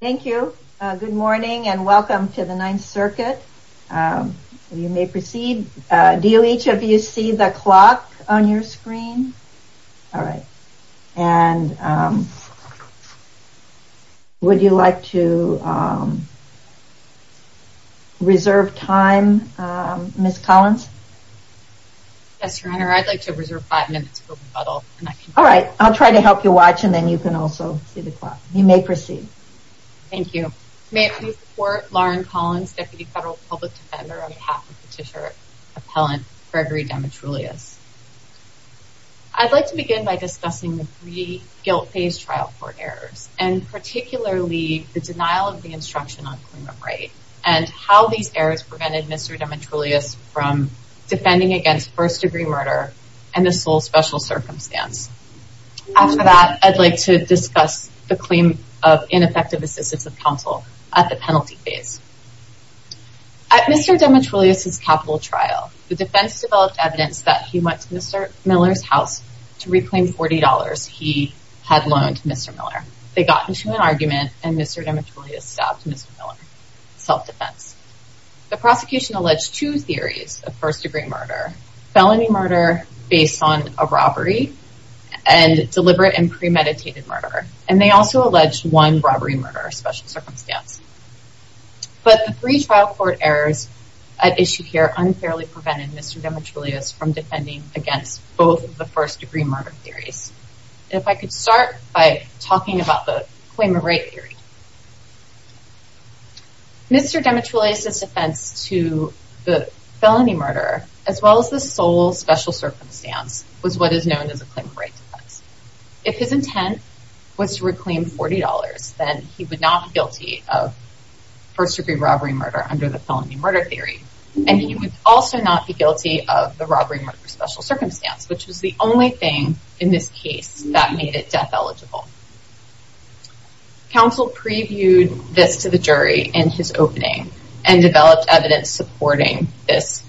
Thank you. Good morning and welcome to the Ninth Circuit. You may proceed. Do each of you see the clock on your screen? All right. And would you like to reserve time, Ms. Collins? Yes, Your Honor. I'd like to reserve five minutes for rebuttal. All right. I'll try to help you watch and then you can also see the clock. You may proceed. Thank you. May it please the Court, Lauren Collins, Deputy Federal Public Defender on behalf of Petitioner Appellant Gregory Demetrulias. I'd like to begin by discussing the three guilt phase trial court errors and particularly the denial of the instruction on claimant right and how these errors prevented Mr. Demetrulias from defending against first-degree murder and the sole special circumstance. After that, I'd like to discuss the claim of ineffective assistance of counsel at the penalty phase. At Mr. Demetrulias' capital trial, the defense developed evidence that he went to Mr. Miller's house to reclaim $40 he had loaned to Mr. Miller. They got into an argument and Mr. Demetrulias stabbed Mr. Miller, self-defense. The prosecution alleged two theories of first-degree murder, felony murder based on a robbery and deliberate and premeditated murder. And they also alleged one robbery murder, special circumstance. But the three trial court errors at issue here unfairly prevented Mr. Demetrulias from defending against both of the first-degree murder theories. If I could start by talking about the claimant right theory. Mr. Demetrulias' defense to the felony murder as well as the sole special circumstance was what is known as a claimant right defense. If his intent was to reclaim $40, then he would not be guilty of first-degree robbery murder under the felony murder theory. And he would also not be guilty of the robbery murder special circumstance, which was the only thing in this case that made it death eligible. Counsel previewed this to the jury in his opening and developed evidence supporting this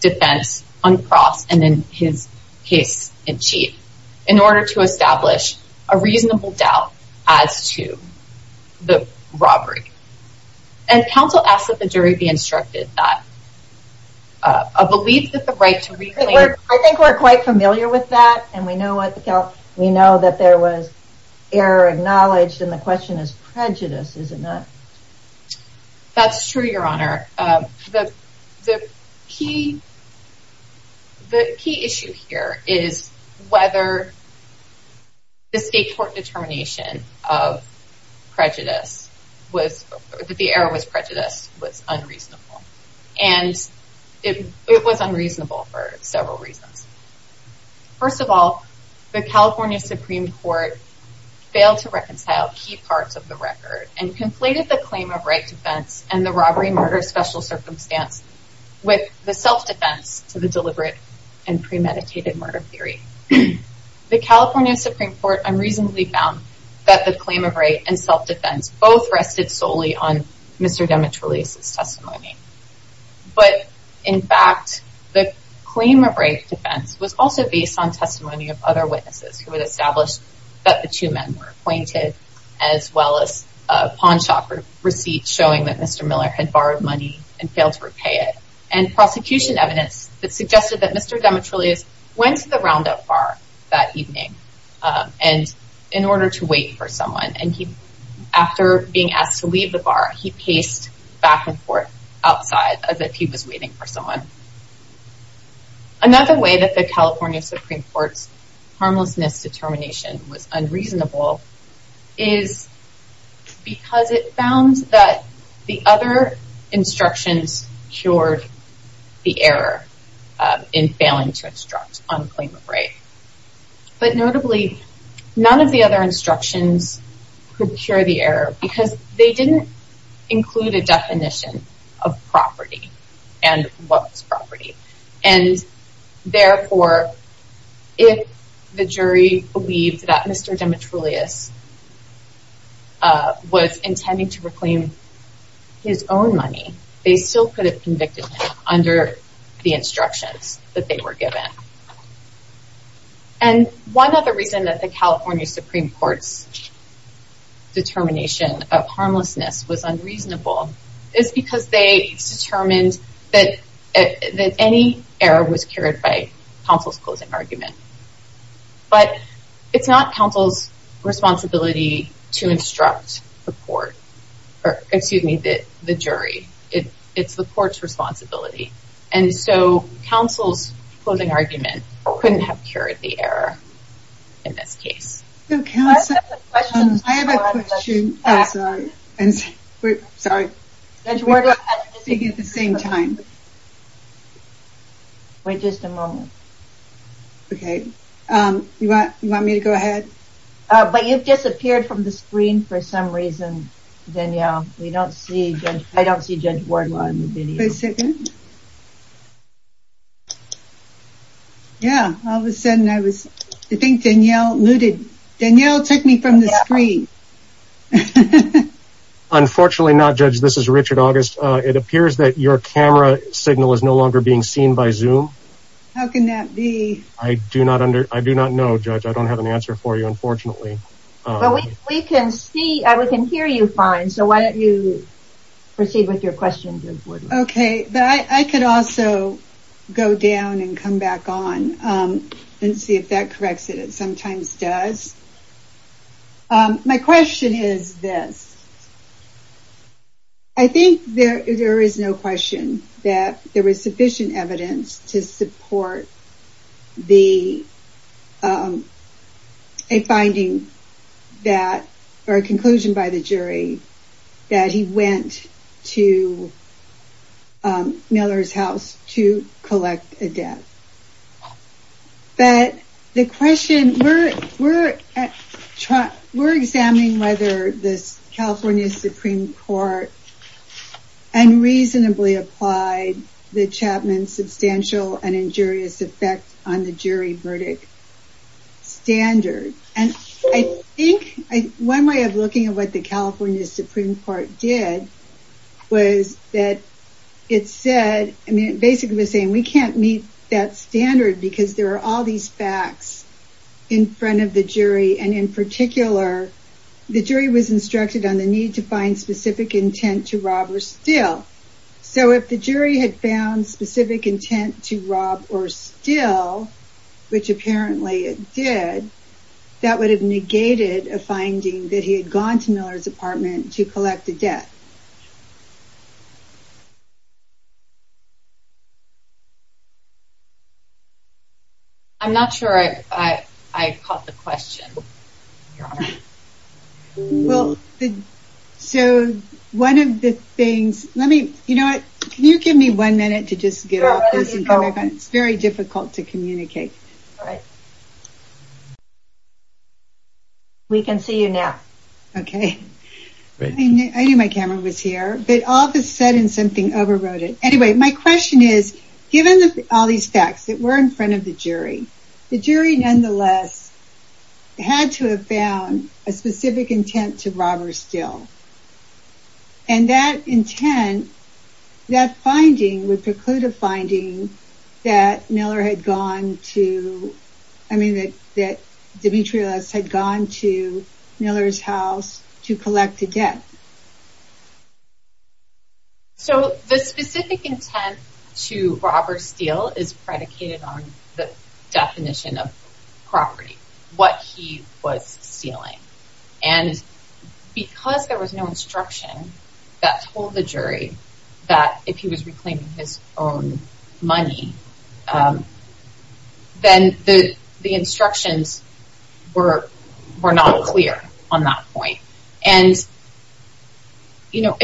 defense on cross and in his case in chief. In order to establish a reasonable doubt as to the robbery. And counsel asked that the jury be instructed that a belief that the right to reclaim. I think we're quite familiar with that. And we know that there was error acknowledged. And the question is prejudice. Is it not? That's true, Your Honor. The key issue here is whether the state court determination of prejudice, that the error was prejudice, was unreasonable. And it was unreasonable for several reasons. First of all, the California Supreme Court failed to reconcile key parts of the record. And conflated the claim of right defense and the robbery murder special circumstance with the self-defense to the deliberate and premeditated murder theory. The California Supreme Court unreasonably found that the claim of right and self-defense both rested solely on Mr. Demetriou's testimony. But, in fact, the claim of right defense was also based on testimony of other witnesses who had established that the two men were acquainted. As well as a pawn shop receipt showing that Mr. Miller had borrowed money and failed to repay it. And prosecution evidence that suggested that Mr. Demetriou went to the Roundup bar that evening in order to wait for someone. And after being asked to leave the bar, he paced back and forth outside as if he was waiting for someone. Another way that the California Supreme Court's harmlessness determination was unreasonable is because it found that the other instructions cured the error in failing to instruct on claim of right. But, notably, none of the other instructions could cure the error because they didn't include a definition of property and what was property. And, therefore, if the jury believed that Mr. Demetriou was intending to reclaim his own money, they still could have convicted him under the instructions that they were given. And one other reason that the California Supreme Court's determination of harmlessness was unreasonable is because they determined that any error was cured by counsel's closing argument. But it's not counsel's responsibility to instruct the jury. It's the court's responsibility. And so, counsel's closing argument couldn't have cured the error in this case. I have a question. Oh, sorry. Sorry. We're speaking at the same time. Wait just a moment. Okay. You want me to go ahead? But you've disappeared from the screen for some reason, Danielle. I don't see Judge Wardlaw in the video. Wait a second. Yeah. All of a sudden, I think Danielle looted. Danielle took me from the screen. Unfortunately not, Judge. This is Richard August. It appears that your camera signal is no longer being seen by Zoom. How can that be? I do not know, Judge. I don't have an answer for you, unfortunately. We can hear you fine, so why don't you proceed with your question, Judge Wardlaw. Okay. I could also go down and come back on and see if that corrects it. It sometimes does. My question is this. I think there is no question that there was sufficient evidence to support a conclusion by the jury that he went to Miller's house to collect a debt. But the question, we're examining whether the California Supreme Court unreasonably applied the Chapman substantial and injurious effect on the jury verdict standard. One way of looking at what the California Supreme Court did was that it said, basically saying we can't meet that standard because there are all these facts in front of the jury. And in particular, the jury was instructed on the need to find specific intent to rob or steal. So if the jury had found specific intent to rob or steal, which apparently it did, that would have negated a finding that he had gone to Miller's apartment to collect a debt. I'm not sure I caught the question, Your Honor. So one of the things, let me, you know what? Can you give me one minute to just get off this and come back on? It's very difficult to communicate. All right. We can see you now. Okay. I knew my camera was here, but all of a sudden something overrode it. Anyway, my question is, given all these facts that were in front of the jury, the jury, nonetheless, had to have found a specific intent to rob or steal. And that intent, that finding would preclude a finding that Miller had gone to, I mean, that Demetrious had gone to Miller's house to collect a debt. So the specific intent to rob or steal is predicated on the definition of property, what he was stealing. And because there was no instruction that told the jury that if he was reclaiming his own money, then the instructions were not clear on that point. And, you know,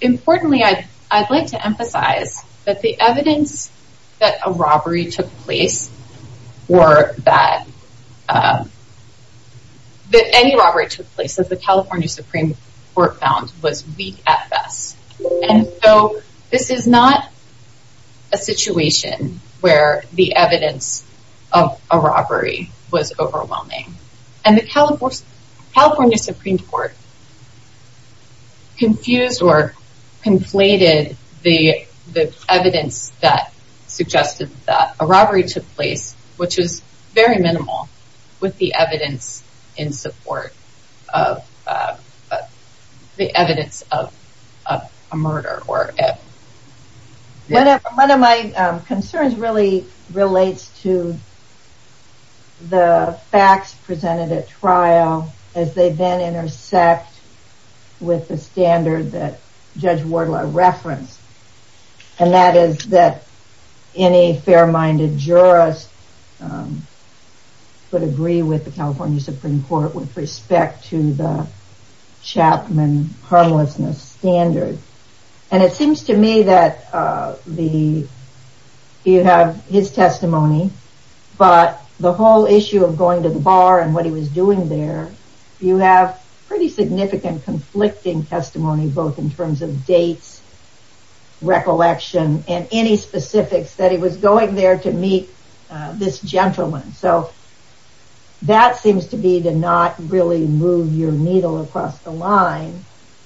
importantly, I'd like to emphasize that the evidence that a robbery took place or that any robbery took place, as the California Supreme Court found, was weak at best. And so this is not a situation where the evidence of a robbery was overwhelming. And the California Supreme Court confused or conflated the evidence that suggested that a robbery took place, which was very minimal, with the evidence in support of the evidence of a murder. One of my concerns really relates to the facts presented at trial as they then intersect with the standard that Judge Wardlaw referenced. And that is that any fair-minded jurors would agree with the California Supreme Court with respect to the Chapman harmlessness standard. And it seems to me that you have his testimony, but the whole issue of going to the bar and what he was doing there, you have pretty significant conflicting testimony, both in terms of dates, recollection, and any specifics that he was going there to meet this gentleman. So, that seems to be to not really move your needle across the line.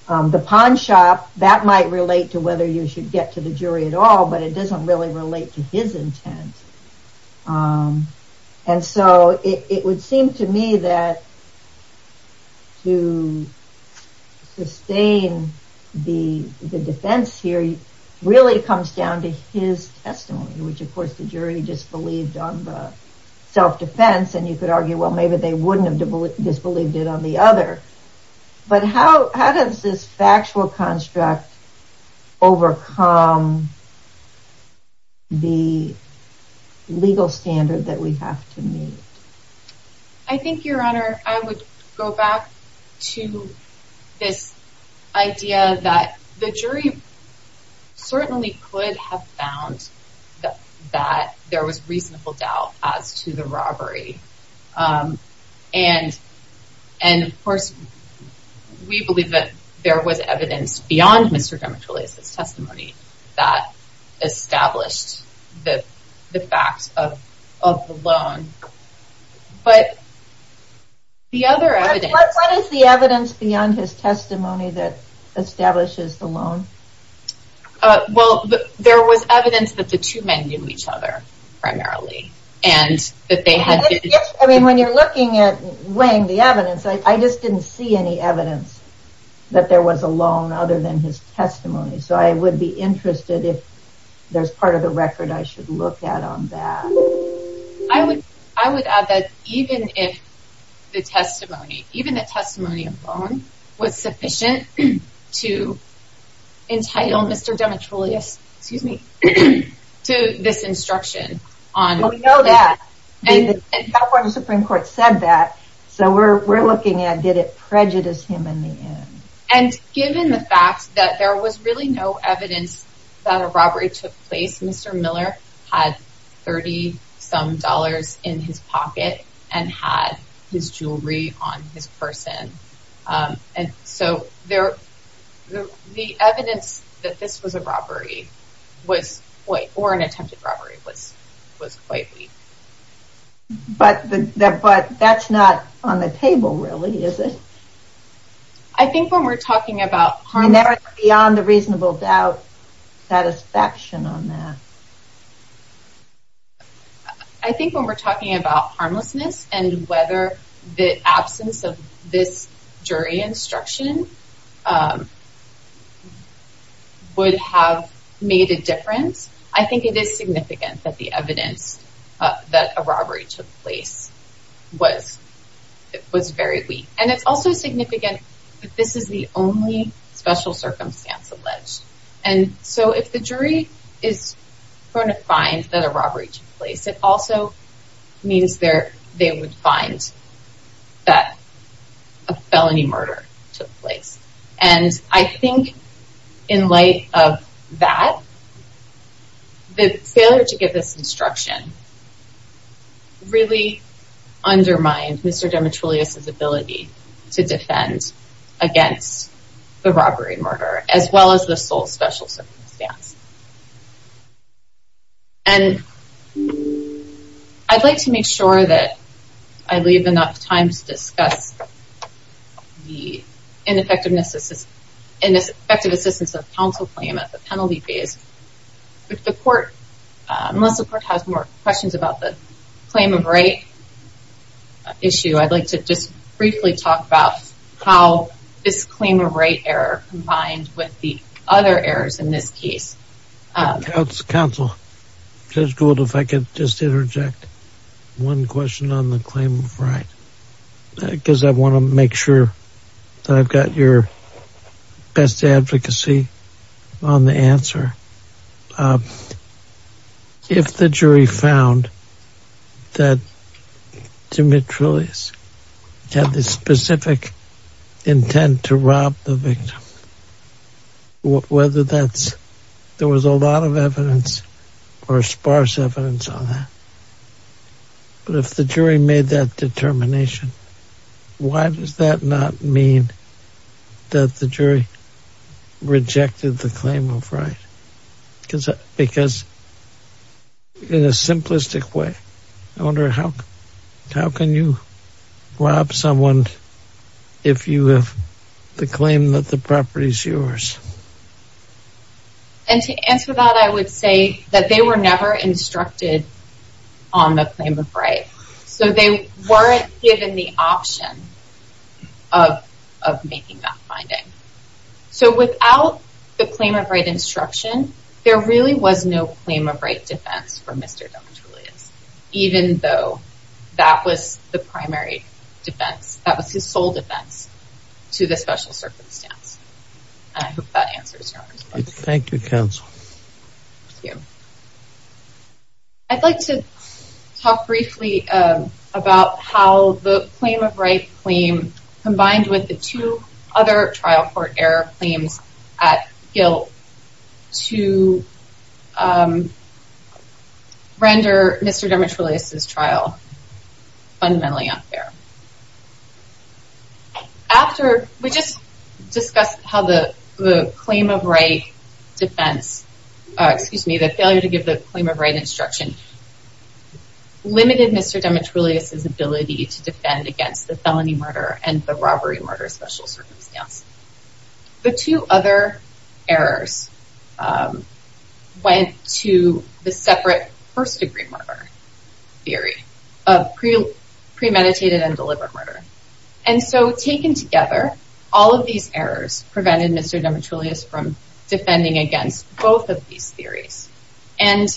The pawn shop, that might relate to whether you should get to the jury at all, but it doesn't really relate to his intent. And so it would seem to me that to sustain the defense here really comes down to his testimony, which of course the jury disbelieved on the self-defense and you could argue, well, maybe they wouldn't have disbelieved it on the other. But how does this factual construct overcome the legal standard that we have to meet? I think, Your Honor, I would go back to this idea that the jury certainly could have found that there was reasonable doubt as to the robbery. And, of course, we believe that there was evidence beyond Mr. Dimitriles' testimony that established the fact of the loan. But the other evidence... What is the evidence beyond his testimony that establishes the loan? Well, there was evidence that the two men knew each other, primarily, and that they had... I mean, when you're looking at weighing the evidence, I just didn't see any evidence that there was a loan other than his testimony. So, I would be interested if there's part of the record I should look at on that. I would add that even if the testimony, even the testimony of loan, was sufficient to entitle Mr. Dimitriles, excuse me, to this instruction on... Well, we know that, and the California Supreme Court said that, so we're looking at did it prejudice him in the end. And given the fact that there was really no evidence that a robbery took place, Mr. Miller had 30-some dollars in his pocket and had his jewelry on his person. And so, the evidence that this was a robbery, or an attempted robbery, was quite weak. But that's not on the table, really, is it? I think when we're talking about... Beyond the reasonable doubt, satisfaction on that. I think when we're talking about harmlessness and whether the absence of this jury instruction would have made a difference, I think it is significant that the evidence that a robbery took place was very weak. And it's also significant that this is the only special circumstance alleged. And so, if the jury is going to find that a robbery took place, it also means they would find that a felony murder took place. And I think in light of that, the failure to give this instruction really undermined Mr. Demetrius' ability to defend against the robbery murder, as well as the sole special circumstance. And I'd like to make sure that I leave enough time to discuss the ineffective assistance of counsel claim at the penalty phase. Unless the court has more questions about the claim of right issue, I'd like to just briefly talk about how this claim of right error combined with the other errors in this case. Counsel, Judge Gould, if I could just interject one question on the claim of right. Because I want to make sure that I've got your best advocacy on the answer. If the jury found that Demetrius had the specific intent to rob the victim, whether that's, there was a lot of evidence or sparse evidence on that. But if the jury made that determination, why does that not mean that the jury rejected the claim of right? Because in a simplistic way, how can you rob someone if you have the claim that the property is yours? And to answer that, I would say that they were never instructed on the claim of right. So they weren't given the option of making that finding. So without the claim of right instruction, there really was no claim of right defense for Mr. Demetrius. Even though that was the primary defense, that was his sole defense to the special circumstance. And I hope that answers your question. Thank you, Counsel. Thank you. I'd like to talk briefly about how the claim of right claim combined with the two other trial court error claims at guilt to render Mr. Demetrius' trial fundamentally unfair. After, we just discussed how the claim of right defense, excuse me, the failure to give the claim of right instruction, limited Mr. Demetrius' ability to defend against the felony murder and the robbery murder special circumstance. The two other errors went to the separate first degree murder theory of premeditated and delivered murder. And so taken together, all of these errors prevented Mr. Demetrius from defending against both of these theories. And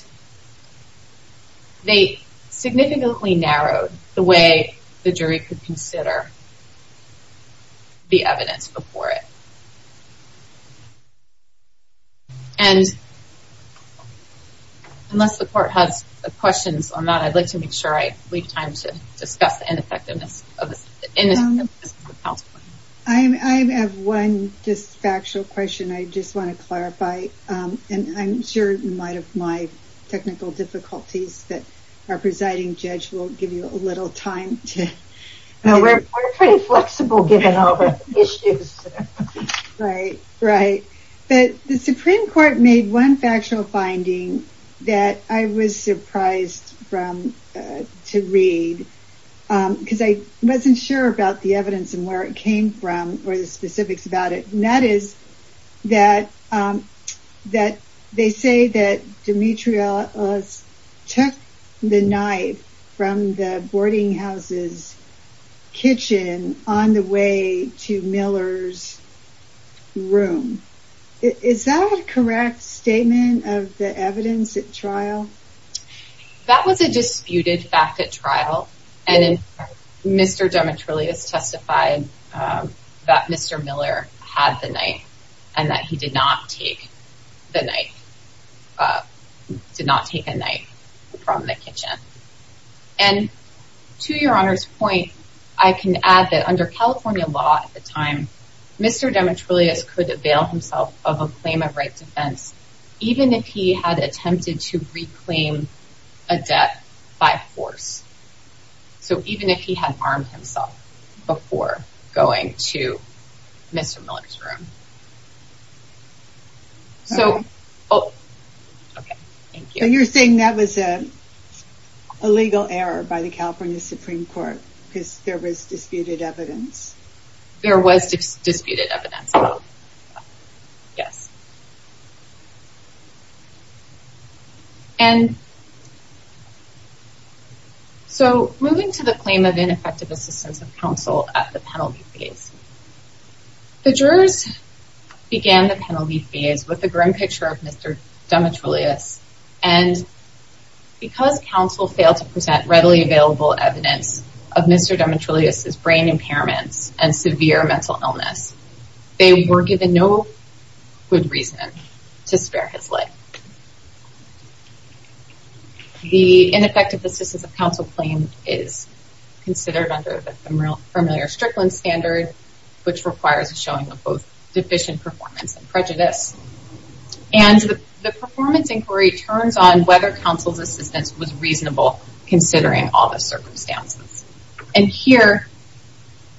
they significantly narrowed the way the jury could consider the evidence before it. And unless the court has questions on that, I'd like to make sure I leave time to discuss the ineffectiveness of this. I have one factual question I just want to clarify. And I'm sure in light of my technical difficulties that our presiding judge will give you a little time. We're pretty flexible given all the issues. Right, right. But the Supreme Court made one factual finding that I was surprised to read. Because I wasn't sure about the evidence and where it came from or the specifics about it. And that is that they say that Demetrius took the knife from the boarding house's kitchen on the way to Miller's room. Is that a correct statement of the evidence at trial? That was a disputed fact at trial. And Mr. Demetrius testified that Mr. Miller had the knife and that he did not take the knife, did not take a knife from the kitchen. And to your Honor's point, I can add that under California law at the time, Mr. Demetrius could avail himself of a claim of right defense. Even if he had attempted to reclaim a debt by force. So even if he had armed himself before going to Mr. Miller's room. Okay, thank you. So you're saying that was a legal error by the California Supreme Court because there was disputed evidence? There was disputed evidence, yes. And so moving to the claim of ineffective assistance of counsel at the penalty phase. The jurors began the penalty phase with a grim picture of Mr. Demetrius. And because counsel failed to present readily available evidence of Mr. Demetrius' brain impairments and severe mental illness, they were given no good reason to spare his life. The ineffective assistance of counsel claim is considered under the familiar Strickland standard, which requires a showing of both deficient performance and prejudice. And the performance inquiry turns on whether counsel's assistance was reasonable considering all the circumstances. And here,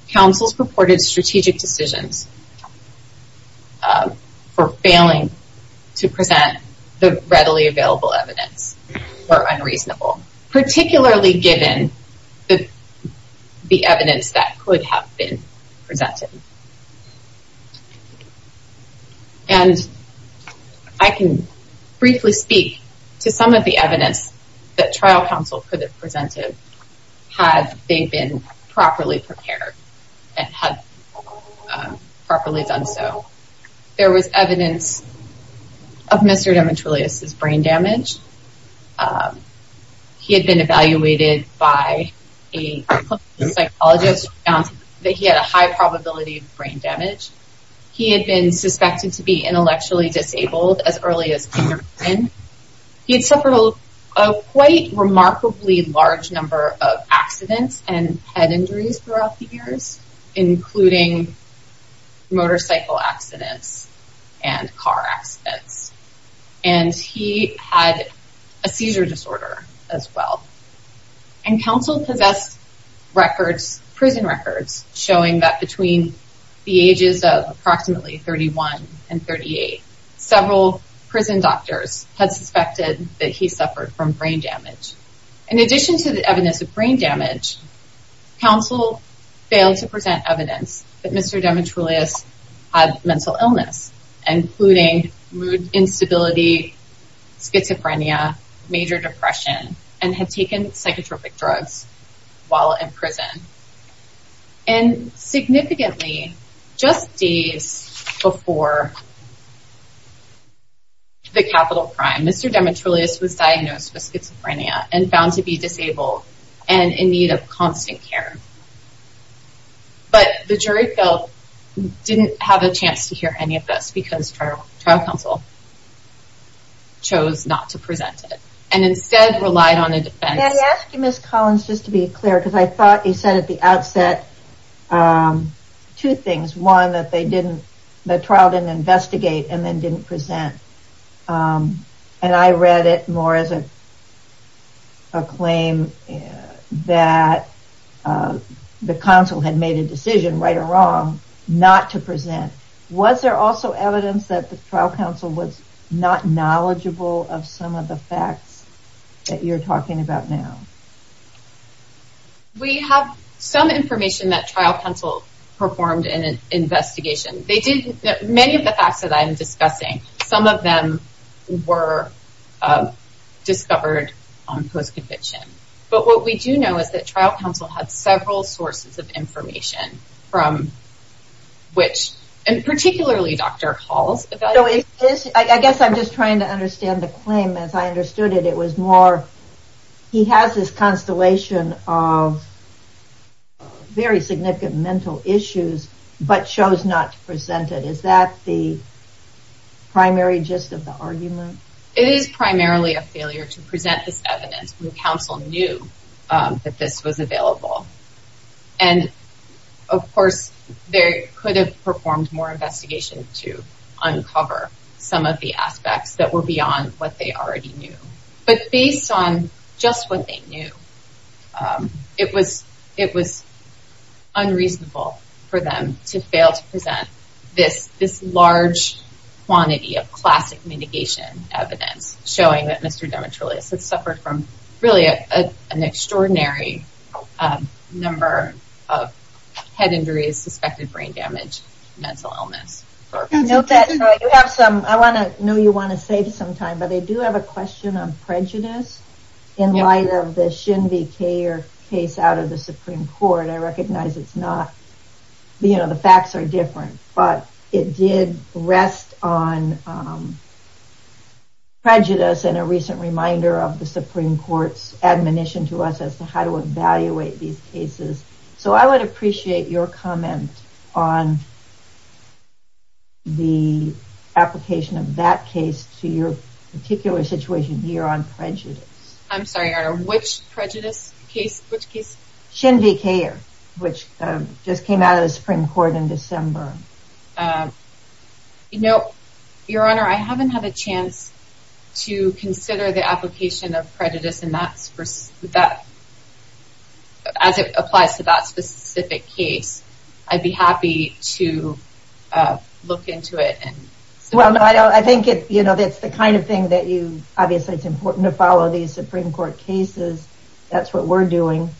counsel's purported strategic decisions for failing to present the readily available evidence were unreasonable. Particularly given the evidence that could have been presented. And I can briefly speak to some of the evidence that trial counsel could have presented had they been properly prepared and had properly done so. There was evidence of Mr. Demetrius' brain damage. He had been evaluated by a psychologist that he had a high probability of brain damage. He had been suspected to be intellectually disabled as early as kindergarten. He had suffered a quite remarkably large number of accidents and head injuries throughout the years, including motorcycle accidents and car accidents. And he had a seizure disorder as well. And counsel possessed records, prison records, showing that between the ages of approximately 31 and 38, several prison doctors had suspected that he suffered from brain damage. In addition to the evidence of brain damage, counsel failed to present evidence that Mr. Demetrius had mental illness, including mood instability, schizophrenia, major depression, and had taken psychotropic drugs while in prison. And significantly, just days before the capital crime, Mr. Demetrius was diagnosed with schizophrenia and found to be disabled and in need of constant care. But the jury felt didn't have a chance to hear any of this because trial counsel chose not to present it and instead relied on a defense. I asked you Ms. Collins just to be clear because I thought you said at the outset two things. One, that they didn't, the trial didn't investigate and then didn't present. And I read it more as a claim that the counsel had made a decision, right or wrong, not to present. Was there also evidence that the trial counsel was not knowledgeable of some of the facts that you're talking about now? We have some information that trial counsel performed in an investigation. Many of the facts that I'm discussing, some of them were discovered on post-conviction. But what we do know is that trial counsel had several sources of information from which, and particularly Dr. Hall's evaluation. I guess I'm just trying to understand the claim as I understood it. It was more, he has this constellation of very significant mental issues but chose not to present it. Is that the primary gist of the argument? It is primarily a failure to present this evidence when counsel knew that this was available. And of course there could have performed more investigation to uncover some of the aspects that were beyond what they already knew. But based on just what they knew, it was unreasonable for them to fail to present this large quantity of classic mitigation evidence. Showing that Mr. Demetrioulias had suffered from really an extraordinary number of head injuries, suspected brain damage, mental illness. I know you want to save some time, but I do have a question on prejudice in light of the Shin V. Kier case out of the Supreme Court. I recognize it's not, you know, the facts are different. But it did rest on prejudice and a recent reminder of the Supreme Court's admonition to us as to how to evaluate these cases. So I would appreciate your comment on the application of that case to your particular situation here on prejudice. I'm sorry Your Honor, which prejudice case? Shin V. Kier, which just came out of the Supreme Court in December. You know, Your Honor, I haven't had a chance to consider the application of prejudice in that, as it applies to that specific case. I'd be happy to look into it. Well, I think it's the kind of thing that you, obviously it's important to follow these Supreme Court cases. That's what we're doing.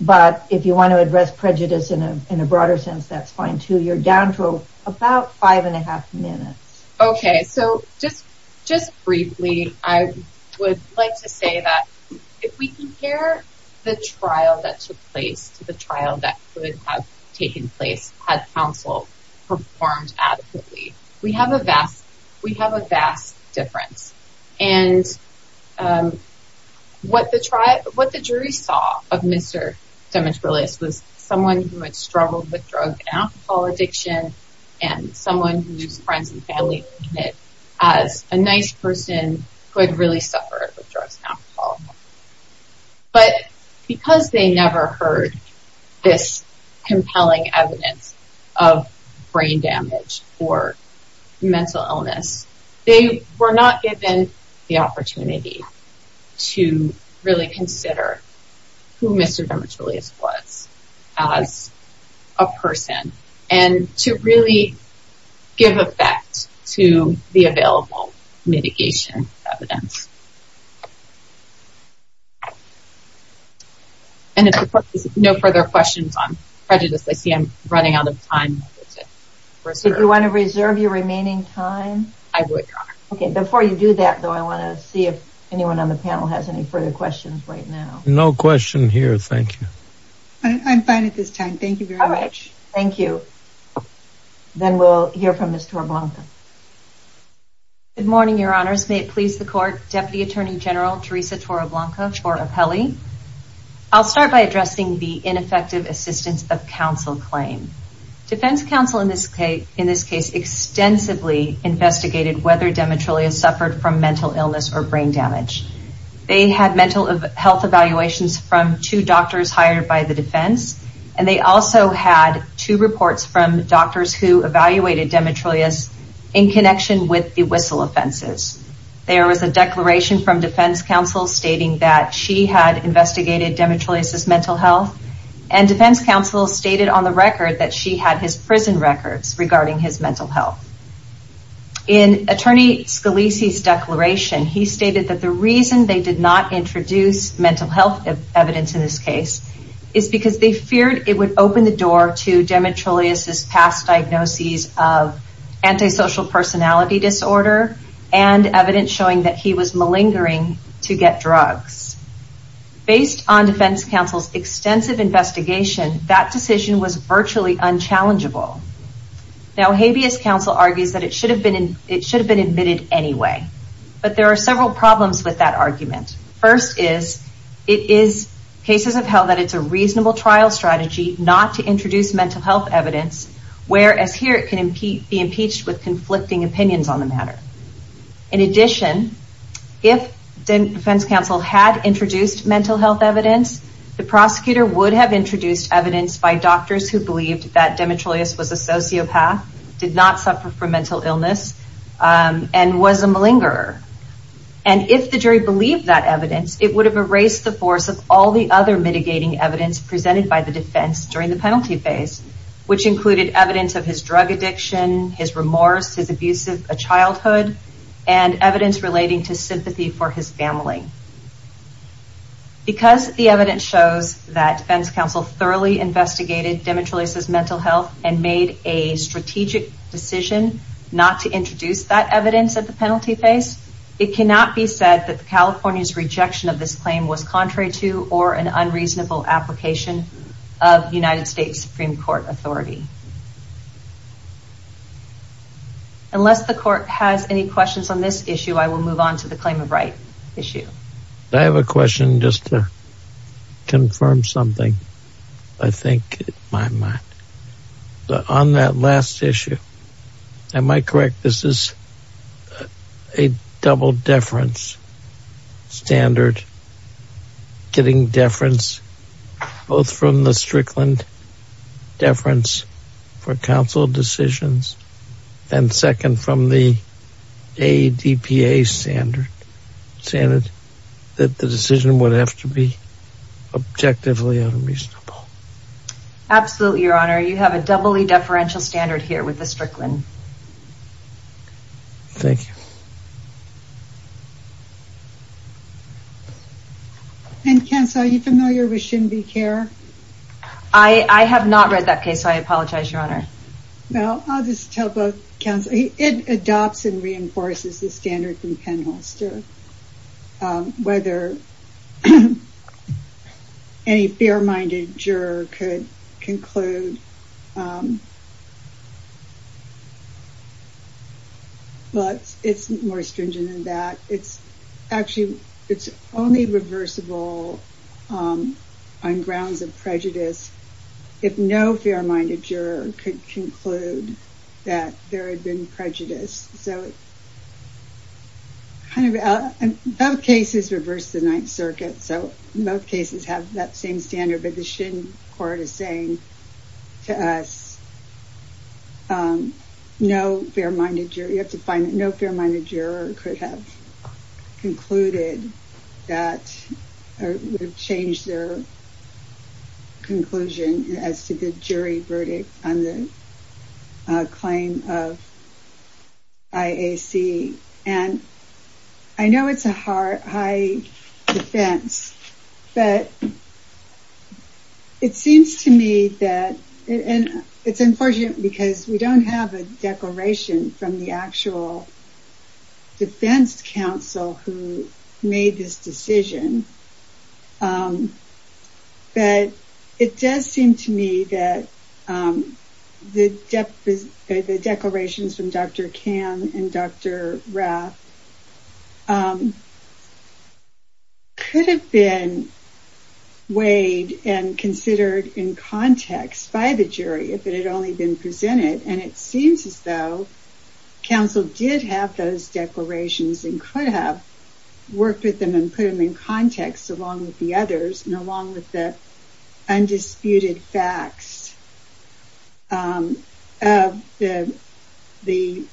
But if you want to address prejudice in a broader sense, that's fine too. You're down to about five and a half minutes. Okay. So just briefly, I would like to say that if we compare the trial that took place to the trial that could have taken place had counsel performed adequately, we have a vast difference. And what the jury saw of Mr. Demetrioulias was someone who had struggled with drug and alcohol addiction and someone whose friends and family had seen it as a nice person who had really suffered with drugs and alcohol. But because they never heard this compelling evidence of brain damage or mental illness, they were not given the opportunity to really consider who Mr. Demetrioulias was as a person and to really give effect to the available mitigation evidence. And if there's no further questions on prejudice, I see I'm running out of time. Do you want to reserve your remaining time? I would, Your Honor. Okay. Before you do that, though, I want to see if anyone on the panel has any further questions right now. No question here. Thank you. I'm fine at this time. Thank you very much. All right. Thank you. Then we'll hear from Ms. Torbanka. Good morning, Your Honors. May it please the Court. Deputy Attorney General Teresa Toroblanco Torapelli. I'll start by addressing the ineffective assistance of counsel claim. Defense counsel in this case extensively investigated whether Demetrioulias suffered from mental illness or brain damage. They had mental health evaluations from two doctors hired by the defense. And they also had two reports from doctors who evaluated Demetrioulias in connection with the whistle offenses. There was a declaration from defense counsel stating that she had investigated Demetrioulias' mental health. And defense counsel stated on the record that she had his prison records regarding his mental health. In Attorney Scalise's declaration, he stated that the reason they did not introduce mental health evidence in this case is because they feared it would open the door to Demetrioulias' past diagnoses of antisocial personality disorder and evidence showing that he was malingering to get drugs. Based on defense counsel's extensive investigation, that decision was virtually unchallengeable. Now, habeas counsel argues that it should have been admitted anyway. But there are several problems with that argument. First is, it is cases of how that it's a reasonable trial strategy not to introduce mental health evidence whereas here it can be impeached with conflicting opinions on the matter. In addition, if defense counsel had introduced mental health evidence, the prosecutor would have introduced evidence by doctors who believed that Demetrioulias was a sociopath, did not suffer from mental illness, and was a malingerer. And if the jury believed that evidence, it would have erased the force of all the other mitigating evidence presented by the defense during the penalty phase, which included evidence of his drug addiction, his remorse, his abusive childhood, and evidence relating to sympathy for his family. Because the evidence shows that defense counsel thoroughly investigated Demetrioulias' mental health and made a strategic decision not to introduce that evidence at the penalty phase, it cannot be said that California's rejection of this claim was contrary to or an unreasonable application of United States Supreme Court authority. Unless the court has any questions on this issue, I will move on to the claim of right issue. I have a question just to confirm something, I think, in my mind. On that last issue, am I correct, this is a double deference standard, getting deference both from the Strickland deference for counsel decisions, and second from the ADPA standard, that the decision would have to be objectively unreasonable? Absolutely, Your Honor. You have a doubly deferential standard here with the Strickland. Thank you. And counsel, are you familiar with Shinbi Kerr? I have not read that case, so I apologize, Your Honor. Well, I'll just tell both counsel, it adopts and reinforces the standard from Penholster. Whether any fair-minded juror could conclude, well, it's more stringent than that. Actually, it's only reversible on grounds of prejudice, if no fair-minded juror could conclude that there had been prejudice. So, both cases reverse the Ninth Circuit, so both cases have that same standard, but the Shin court is saying to us, you have to find that no fair-minded juror could have concluded that, or would have changed their conclusion as to the jury verdict on the claim of IAC. And I know it's a high defense, but it seems to me that, and it's unfortunate because we don't have a declaration from the actual defense counsel who made this decision, but it does seem to me that the declarations from Dr. Kamm and Dr. Rath could have been weighed and considered in context by the jury, if it had only been presented, and it seems as though counsel did have those declarations and could have worked with them and put them in context along with the others, and along with the undisputed facts of both the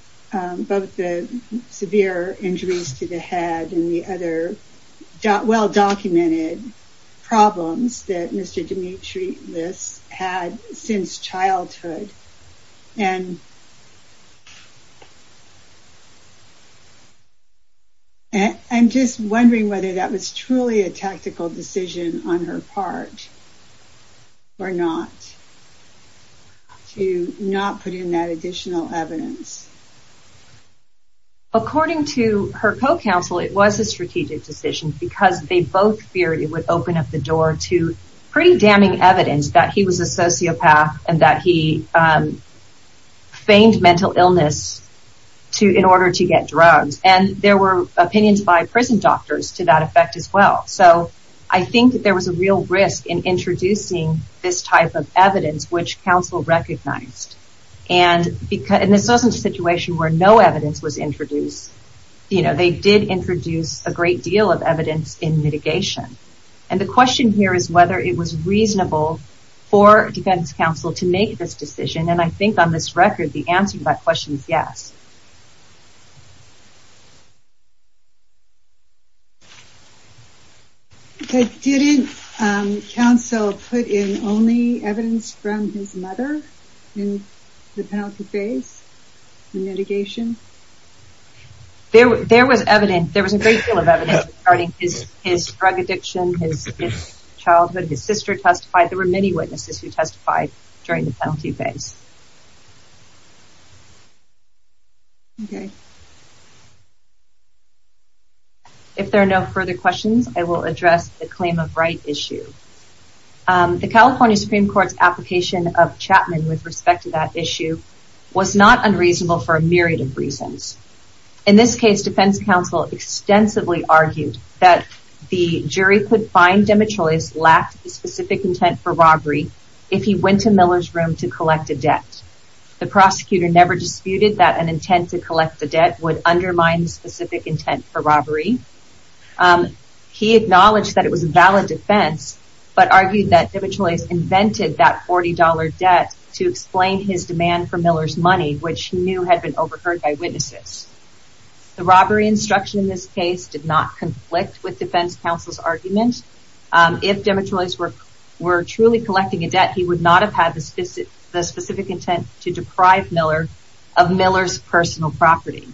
severe injuries to the head and the other well-documented problems that Mr. Dimitris had since childhood. I'm just wondering whether that was truly a tactical decision on her part or not, to not put in that additional evidence. According to her co-counsel, it was a strategic decision because they both feared it would open up the door to pretty damning evidence that he was a sociopath and that he feigned mental illness in order to get drugs, and there were opinions by prison doctors to that effect as well, so I think there was a real risk in introducing this type of evidence, which counsel recognized, and this wasn't a situation where no evidence was introduced. They did introduce a great deal of evidence in mitigation, and the question here is whether it was reasonable for defense counsel to make this decision, and I think on this record the answer to that question is yes. Okay, didn't counsel put in only evidence from his mother in the penalty phase in mitigation? There was a great deal of evidence regarding his drug addiction, his childhood, his sister testified, there were many witnesses who testified during the penalty phase. Okay. If there are no further questions, I will address the claim of right issue. The California Supreme Court's application of Chapman with respect to that issue was not unreasonable for a myriad of reasons. In this case, defense counsel extensively argued that the jury could find Demetreus lacked the specific intent for robbery if he went to Miller's room to collect a dead body. The prosecutor never disputed that an intent to collect a dead body would undermine the specific intent for robbery. He acknowledged that it was a valid defense, but argued that Demetreus invented that $40 debt to explain his demand for Miller's money, which he knew had been overheard by witnesses. The robbery instruction in this case did not conflict with defense counsel's argument. If Demetreus were truly collecting a debt, he would not have had the specific intent to deprive Miller of Miller's personal property.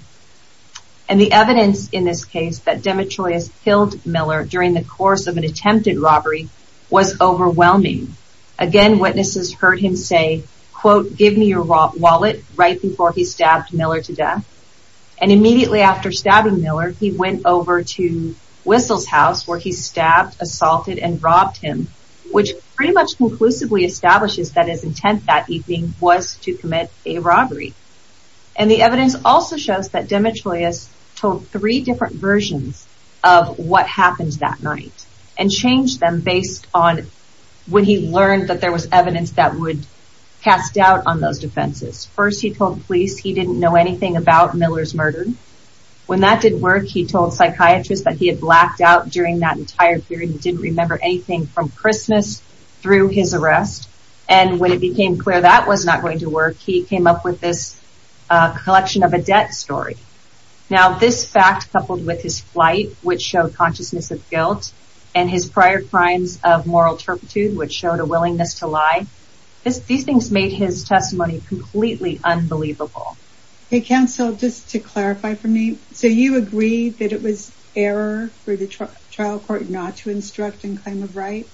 And the evidence in this case that Demetreus killed Miller during the course of an attempted robbery was overwhelming. Again, witnesses heard him say, quote, give me your wallet right before he stabbed Miller to death. And immediately after stabbing Miller, he went over to Whistle's house where he stabbed, assaulted, and robbed him, which pretty much conclusively establishes that his intent that evening was to commit a robbery. And the evidence also shows that Demetreus told three different versions of what happened that night and changed them based on when he learned that there was evidence that would cast doubt on those defenses. First, he told police he didn't know anything about Miller's murder. When that did work, he told psychiatrists that he had blacked out during that entire period and didn't remember anything from Christmas through his arrest. And when it became clear that was not going to work, he came up with this collection of a debt story. Now, this fact coupled with his flight, which showed consciousness of guilt, and his prior crimes of moral turpitude, which showed a willingness to lie, these things made his testimony completely unbelievable. Okay, counsel, just to clarify for me, so you agree that it was error for the trial court not to instruct in claim of right?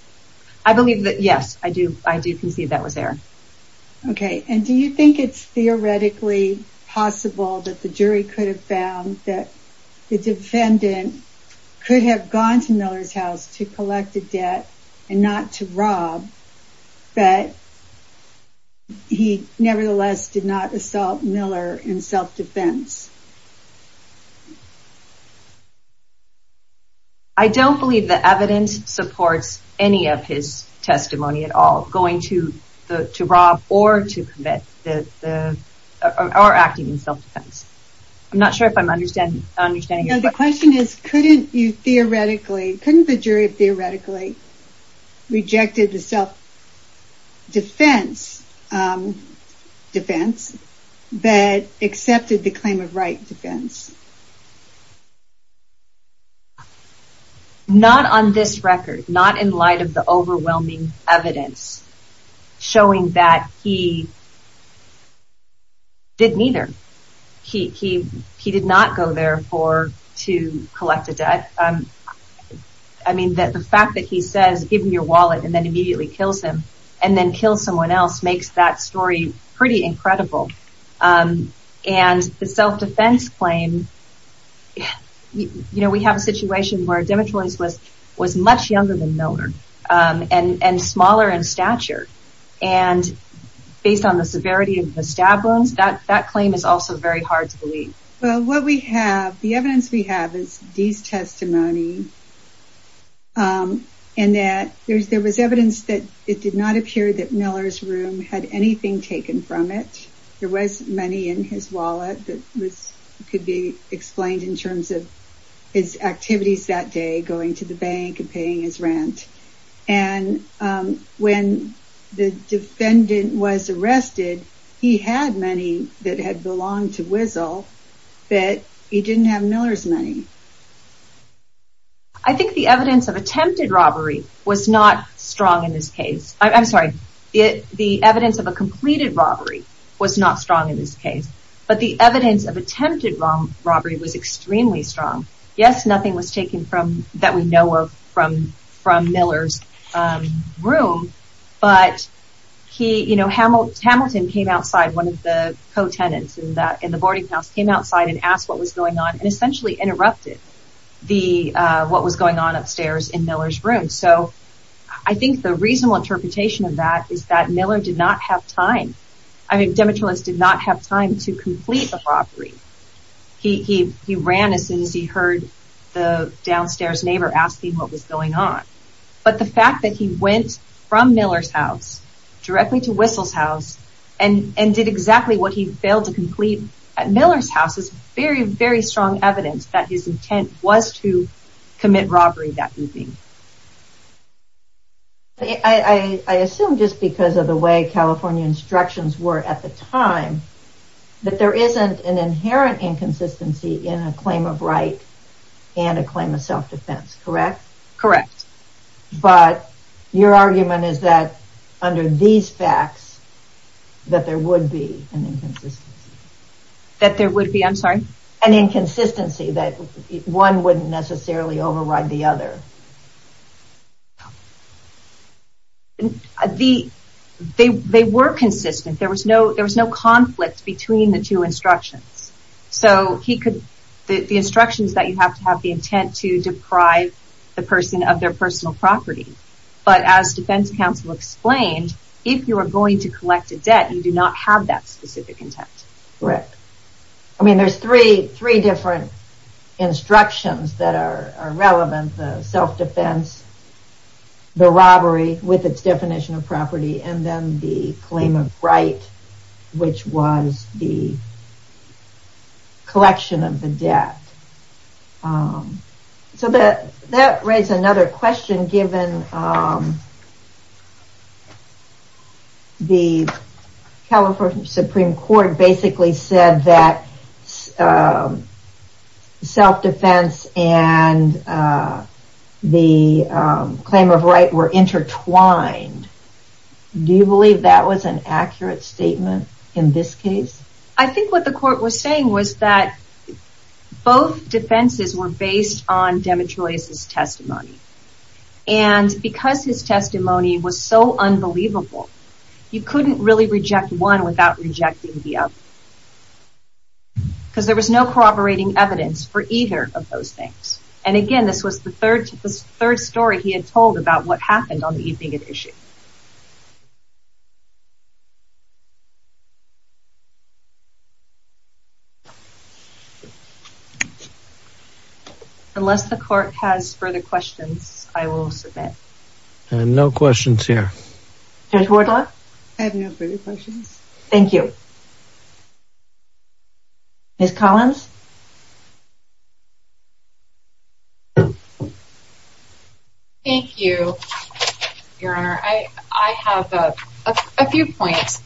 I believe that, yes, I do. I do concede that was error. Okay, and do you think it's theoretically possible that the jury could have found that the defendant could have gone to Miller's house to collect a debt and not to rob, but he nevertheless did not assault Miller in self-defense? I don't believe the evidence supports any of his testimony at all, going to rob or acting in self-defense. I'm not sure if I'm understanding you. No, the question is, couldn't you theoretically, couldn't the jury theoretically reject the self-defense defense that accepted the claim of right defense? Not on this record, not in light of the overwhelming evidence showing that he didn't either. He did not go there to collect a debt. I mean, the fact that he says, give me your wallet and then immediately kills him and then kills someone else makes that story pretty incredible. And the self-defense claim, we have a situation where Demetrius was much younger than Miller and smaller in stature. And based on the severity of the stab wounds, that claim is also very hard to believe. Well, what we have, the evidence we have is these testimony and that there was evidence that it did not appear that Miller's room had anything taken from it. There was money in his wallet that could be explained in terms of his activities that day, going to the bank and paying his rent. And when the defendant was arrested, he had money that had belonged to Wiesel, but he didn't have Miller's money. I think the evidence of attempted robbery was not strong in this case. I'm sorry, the evidence of a completed robbery was not strong in this case. But the evidence of attempted robbery was extremely strong. Yes, nothing was taken that we know of from Miller's room, but Hamilton came outside, one of the co-tenants in the boarding house, came outside and asked what was going on and essentially interrupted what was going on upstairs in Miller's room. So I think the reasonable interpretation of that is that Miller did not have time, I mean Demetrius did not have time to complete the robbery. He ran as soon as he heard the downstairs neighbor asking what was going on. But the fact that he went from Miller's house directly to Wiesel's house and did exactly what he failed to complete at Miller's house is very, very strong evidence that his intent was to commit robbery that evening. I assume just because of the way California instructions were at the time that there isn't an inherent inconsistency in a claim of right and a claim of self-defense, correct? Correct. But your argument is that under these facts that there would be an inconsistency. That there would be, I'm sorry? An inconsistency that one wouldn't necessarily override the other. They were consistent, there was no conflict between the two instructions. So he could, the instructions that you have to have the intent to deprive the person of their personal property. But as defense counsel explained, if you are going to collect a debt you do not have that specific intent. Correct. I mean there's three different instructions that are relevant. The self-defense, the robbery with its definition of property and then the claim of right which was the collection of the debt. So that raises another question given the California Supreme Court basically said that self-defense and the claim of right were intertwined. Do you believe that was an accurate statement in this case? I think what the court was saying was that both defenses were based on Demetrius' testimony. And because his testimony was so unbelievable you couldn't really reject one without rejecting the other. Because there was no corroborating evidence for either of those things. And again this was the third story he had told about what happened on the evening of issue. Unless the court has further questions, I will submit. No questions here. Judge Wardlaw? I have no further questions. Thank you. Ms. Collins? Thank you, Your Honor. I have a few points.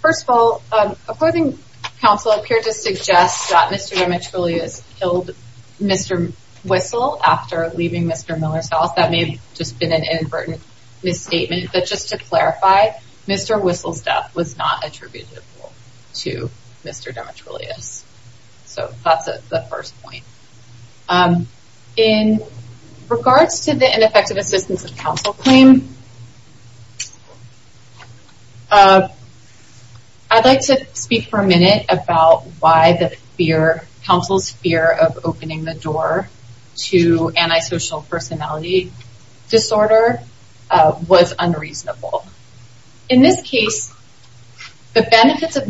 First of all, opposing counsel appeared to suggest that Mr. Demetrius killed Mr. Whistle after leaving Mr. Miller's house. That may have just been an inadvertent misstatement. But just to clarify, Mr. Whistle's death was not attributable to Mr. Demetrius. So that's the first point. In regards to the ineffective assistance of counsel claim, I'd like to speak for a minute about why the counsel's fear of opening the door to antisocial personality disorder was unreasonable. In this case, the benefits of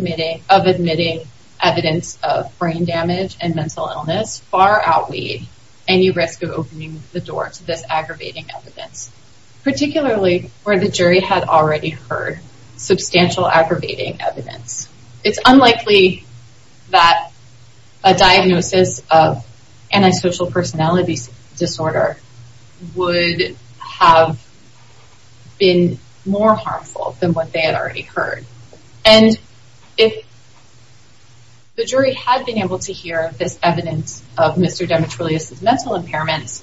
admitting evidence of brain damage and mental illness far outweigh any risk of opening the door to this aggravating evidence. Particularly where the jury had already heard substantial aggravating evidence. It's unlikely that a diagnosis of antisocial personality disorder would have been more harmful than what they had already heard. And if the jury had been able to hear this evidence of Mr. Demetrius' mental impairment,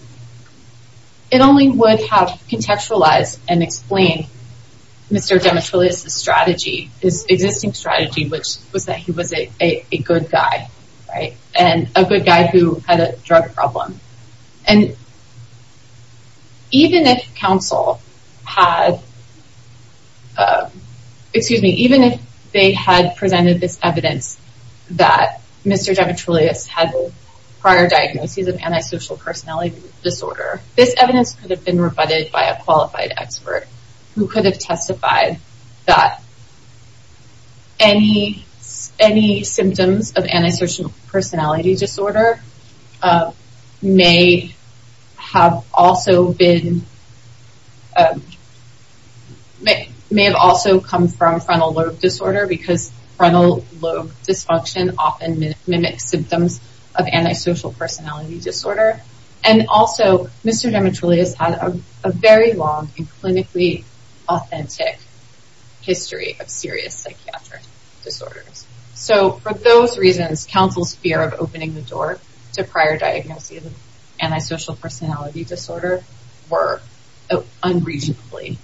it only would have contextualized and explained Mr. Demetrius' strategy, his existing strategy, which was that he was a good guy, right? And a good guy who had a drug problem. And even if counsel had... Excuse me, even if they had presented this evidence that Mr. Demetrius had prior diagnoses of antisocial personality disorder, this evidence could have been rebutted by a qualified expert who could have testified that any symptoms of antisocial personality disorder may have also come from frontal lobe disorder because frontal lobe dysfunction often mimics symptoms of antisocial personality disorder. And also, Mr. Demetrius had a very long and clinically authentic history of serious psychiatric disorders. So for those reasons, counsel's fear of opening the door to prior diagnoses of antisocial personality disorder were unreasonably...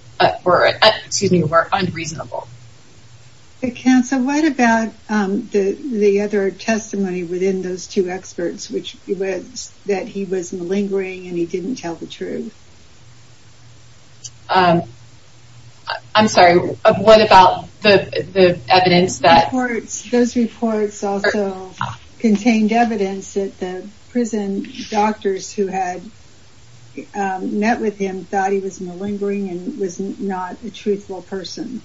Excuse me, were unreasonable. But counsel, what about the other testimony within those two experts, which was that he was malingering and he didn't tell the truth? I'm sorry, what about the evidence that... Those reports also contained evidence that the prison doctors who had met with him thought he was malingering and was not a truthful person.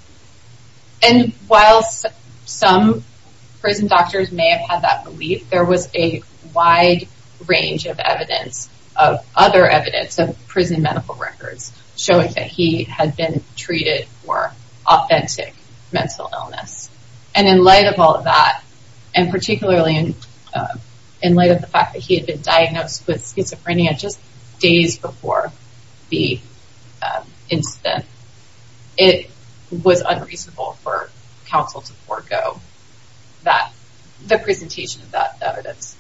And while some prison doctors may have had that belief, there was a wide range of evidence, of other evidence of prison medical records showing that he had been treated for authentic mental illness. And in light of all of that, and particularly in light of the fact that he had been diagnosed with schizophrenia just days before the incident, it was unreasonable for counsel to forgo the presentation of that evidence.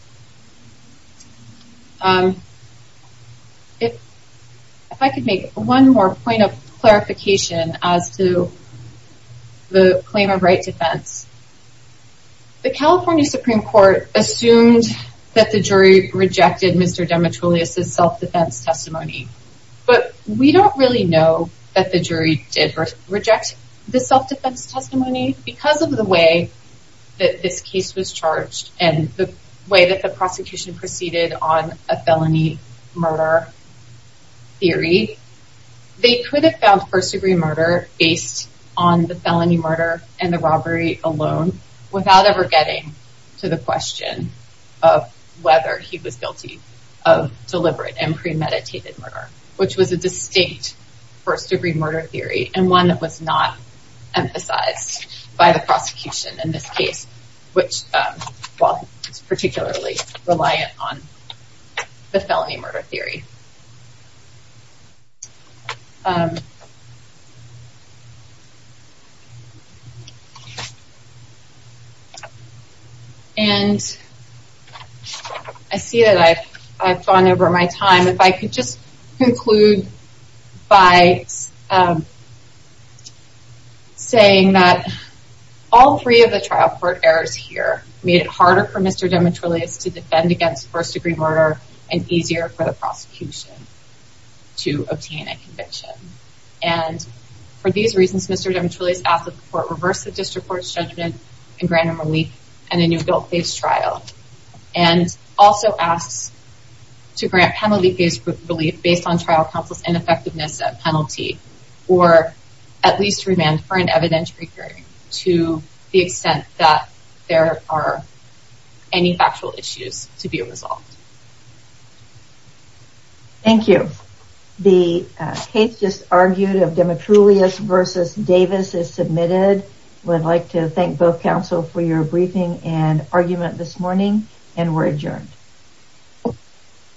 If I could make one more point of clarification as to the claim of right defense. The California Supreme Court assumed that the jury rejected Mr. Demetrioulias' self-defense testimony. But we don't really know that the jury did reject the self-defense testimony because of the way that this case was charged and the way that the prosecution proceeded on a felony murder theory. They could have found first-degree murder based on the felony murder and the robbery alone without ever getting to the question of whether he was guilty of deliberate and premeditated murder, which was a distinct first-degree murder theory and one that was not emphasized by the prosecution in this case, which was particularly reliant on the felony murder theory. And I see that I've gone over my time. If I could just conclude by saying that all three of the trial court errors here made it harder for Mr. Demetrioulias to defend against first-degree murder and easier for the prosecution to obtain a conviction. And for these reasons, Mr. Demetrioulias asked that the court reverse the district court's judgment and grant him relief in a new guilt-based trial and also asks to grant penalty-based relief based on trial counsel's ineffectiveness at penalty or at least remand for an evidentiary hearing to the extent that there are any factual issues to be resolved. Thank you. The case just argued of Demetrioulias v. Davis is submitted. We'd like to thank both counsel for your briefing and argument this morning. And we're adjourned.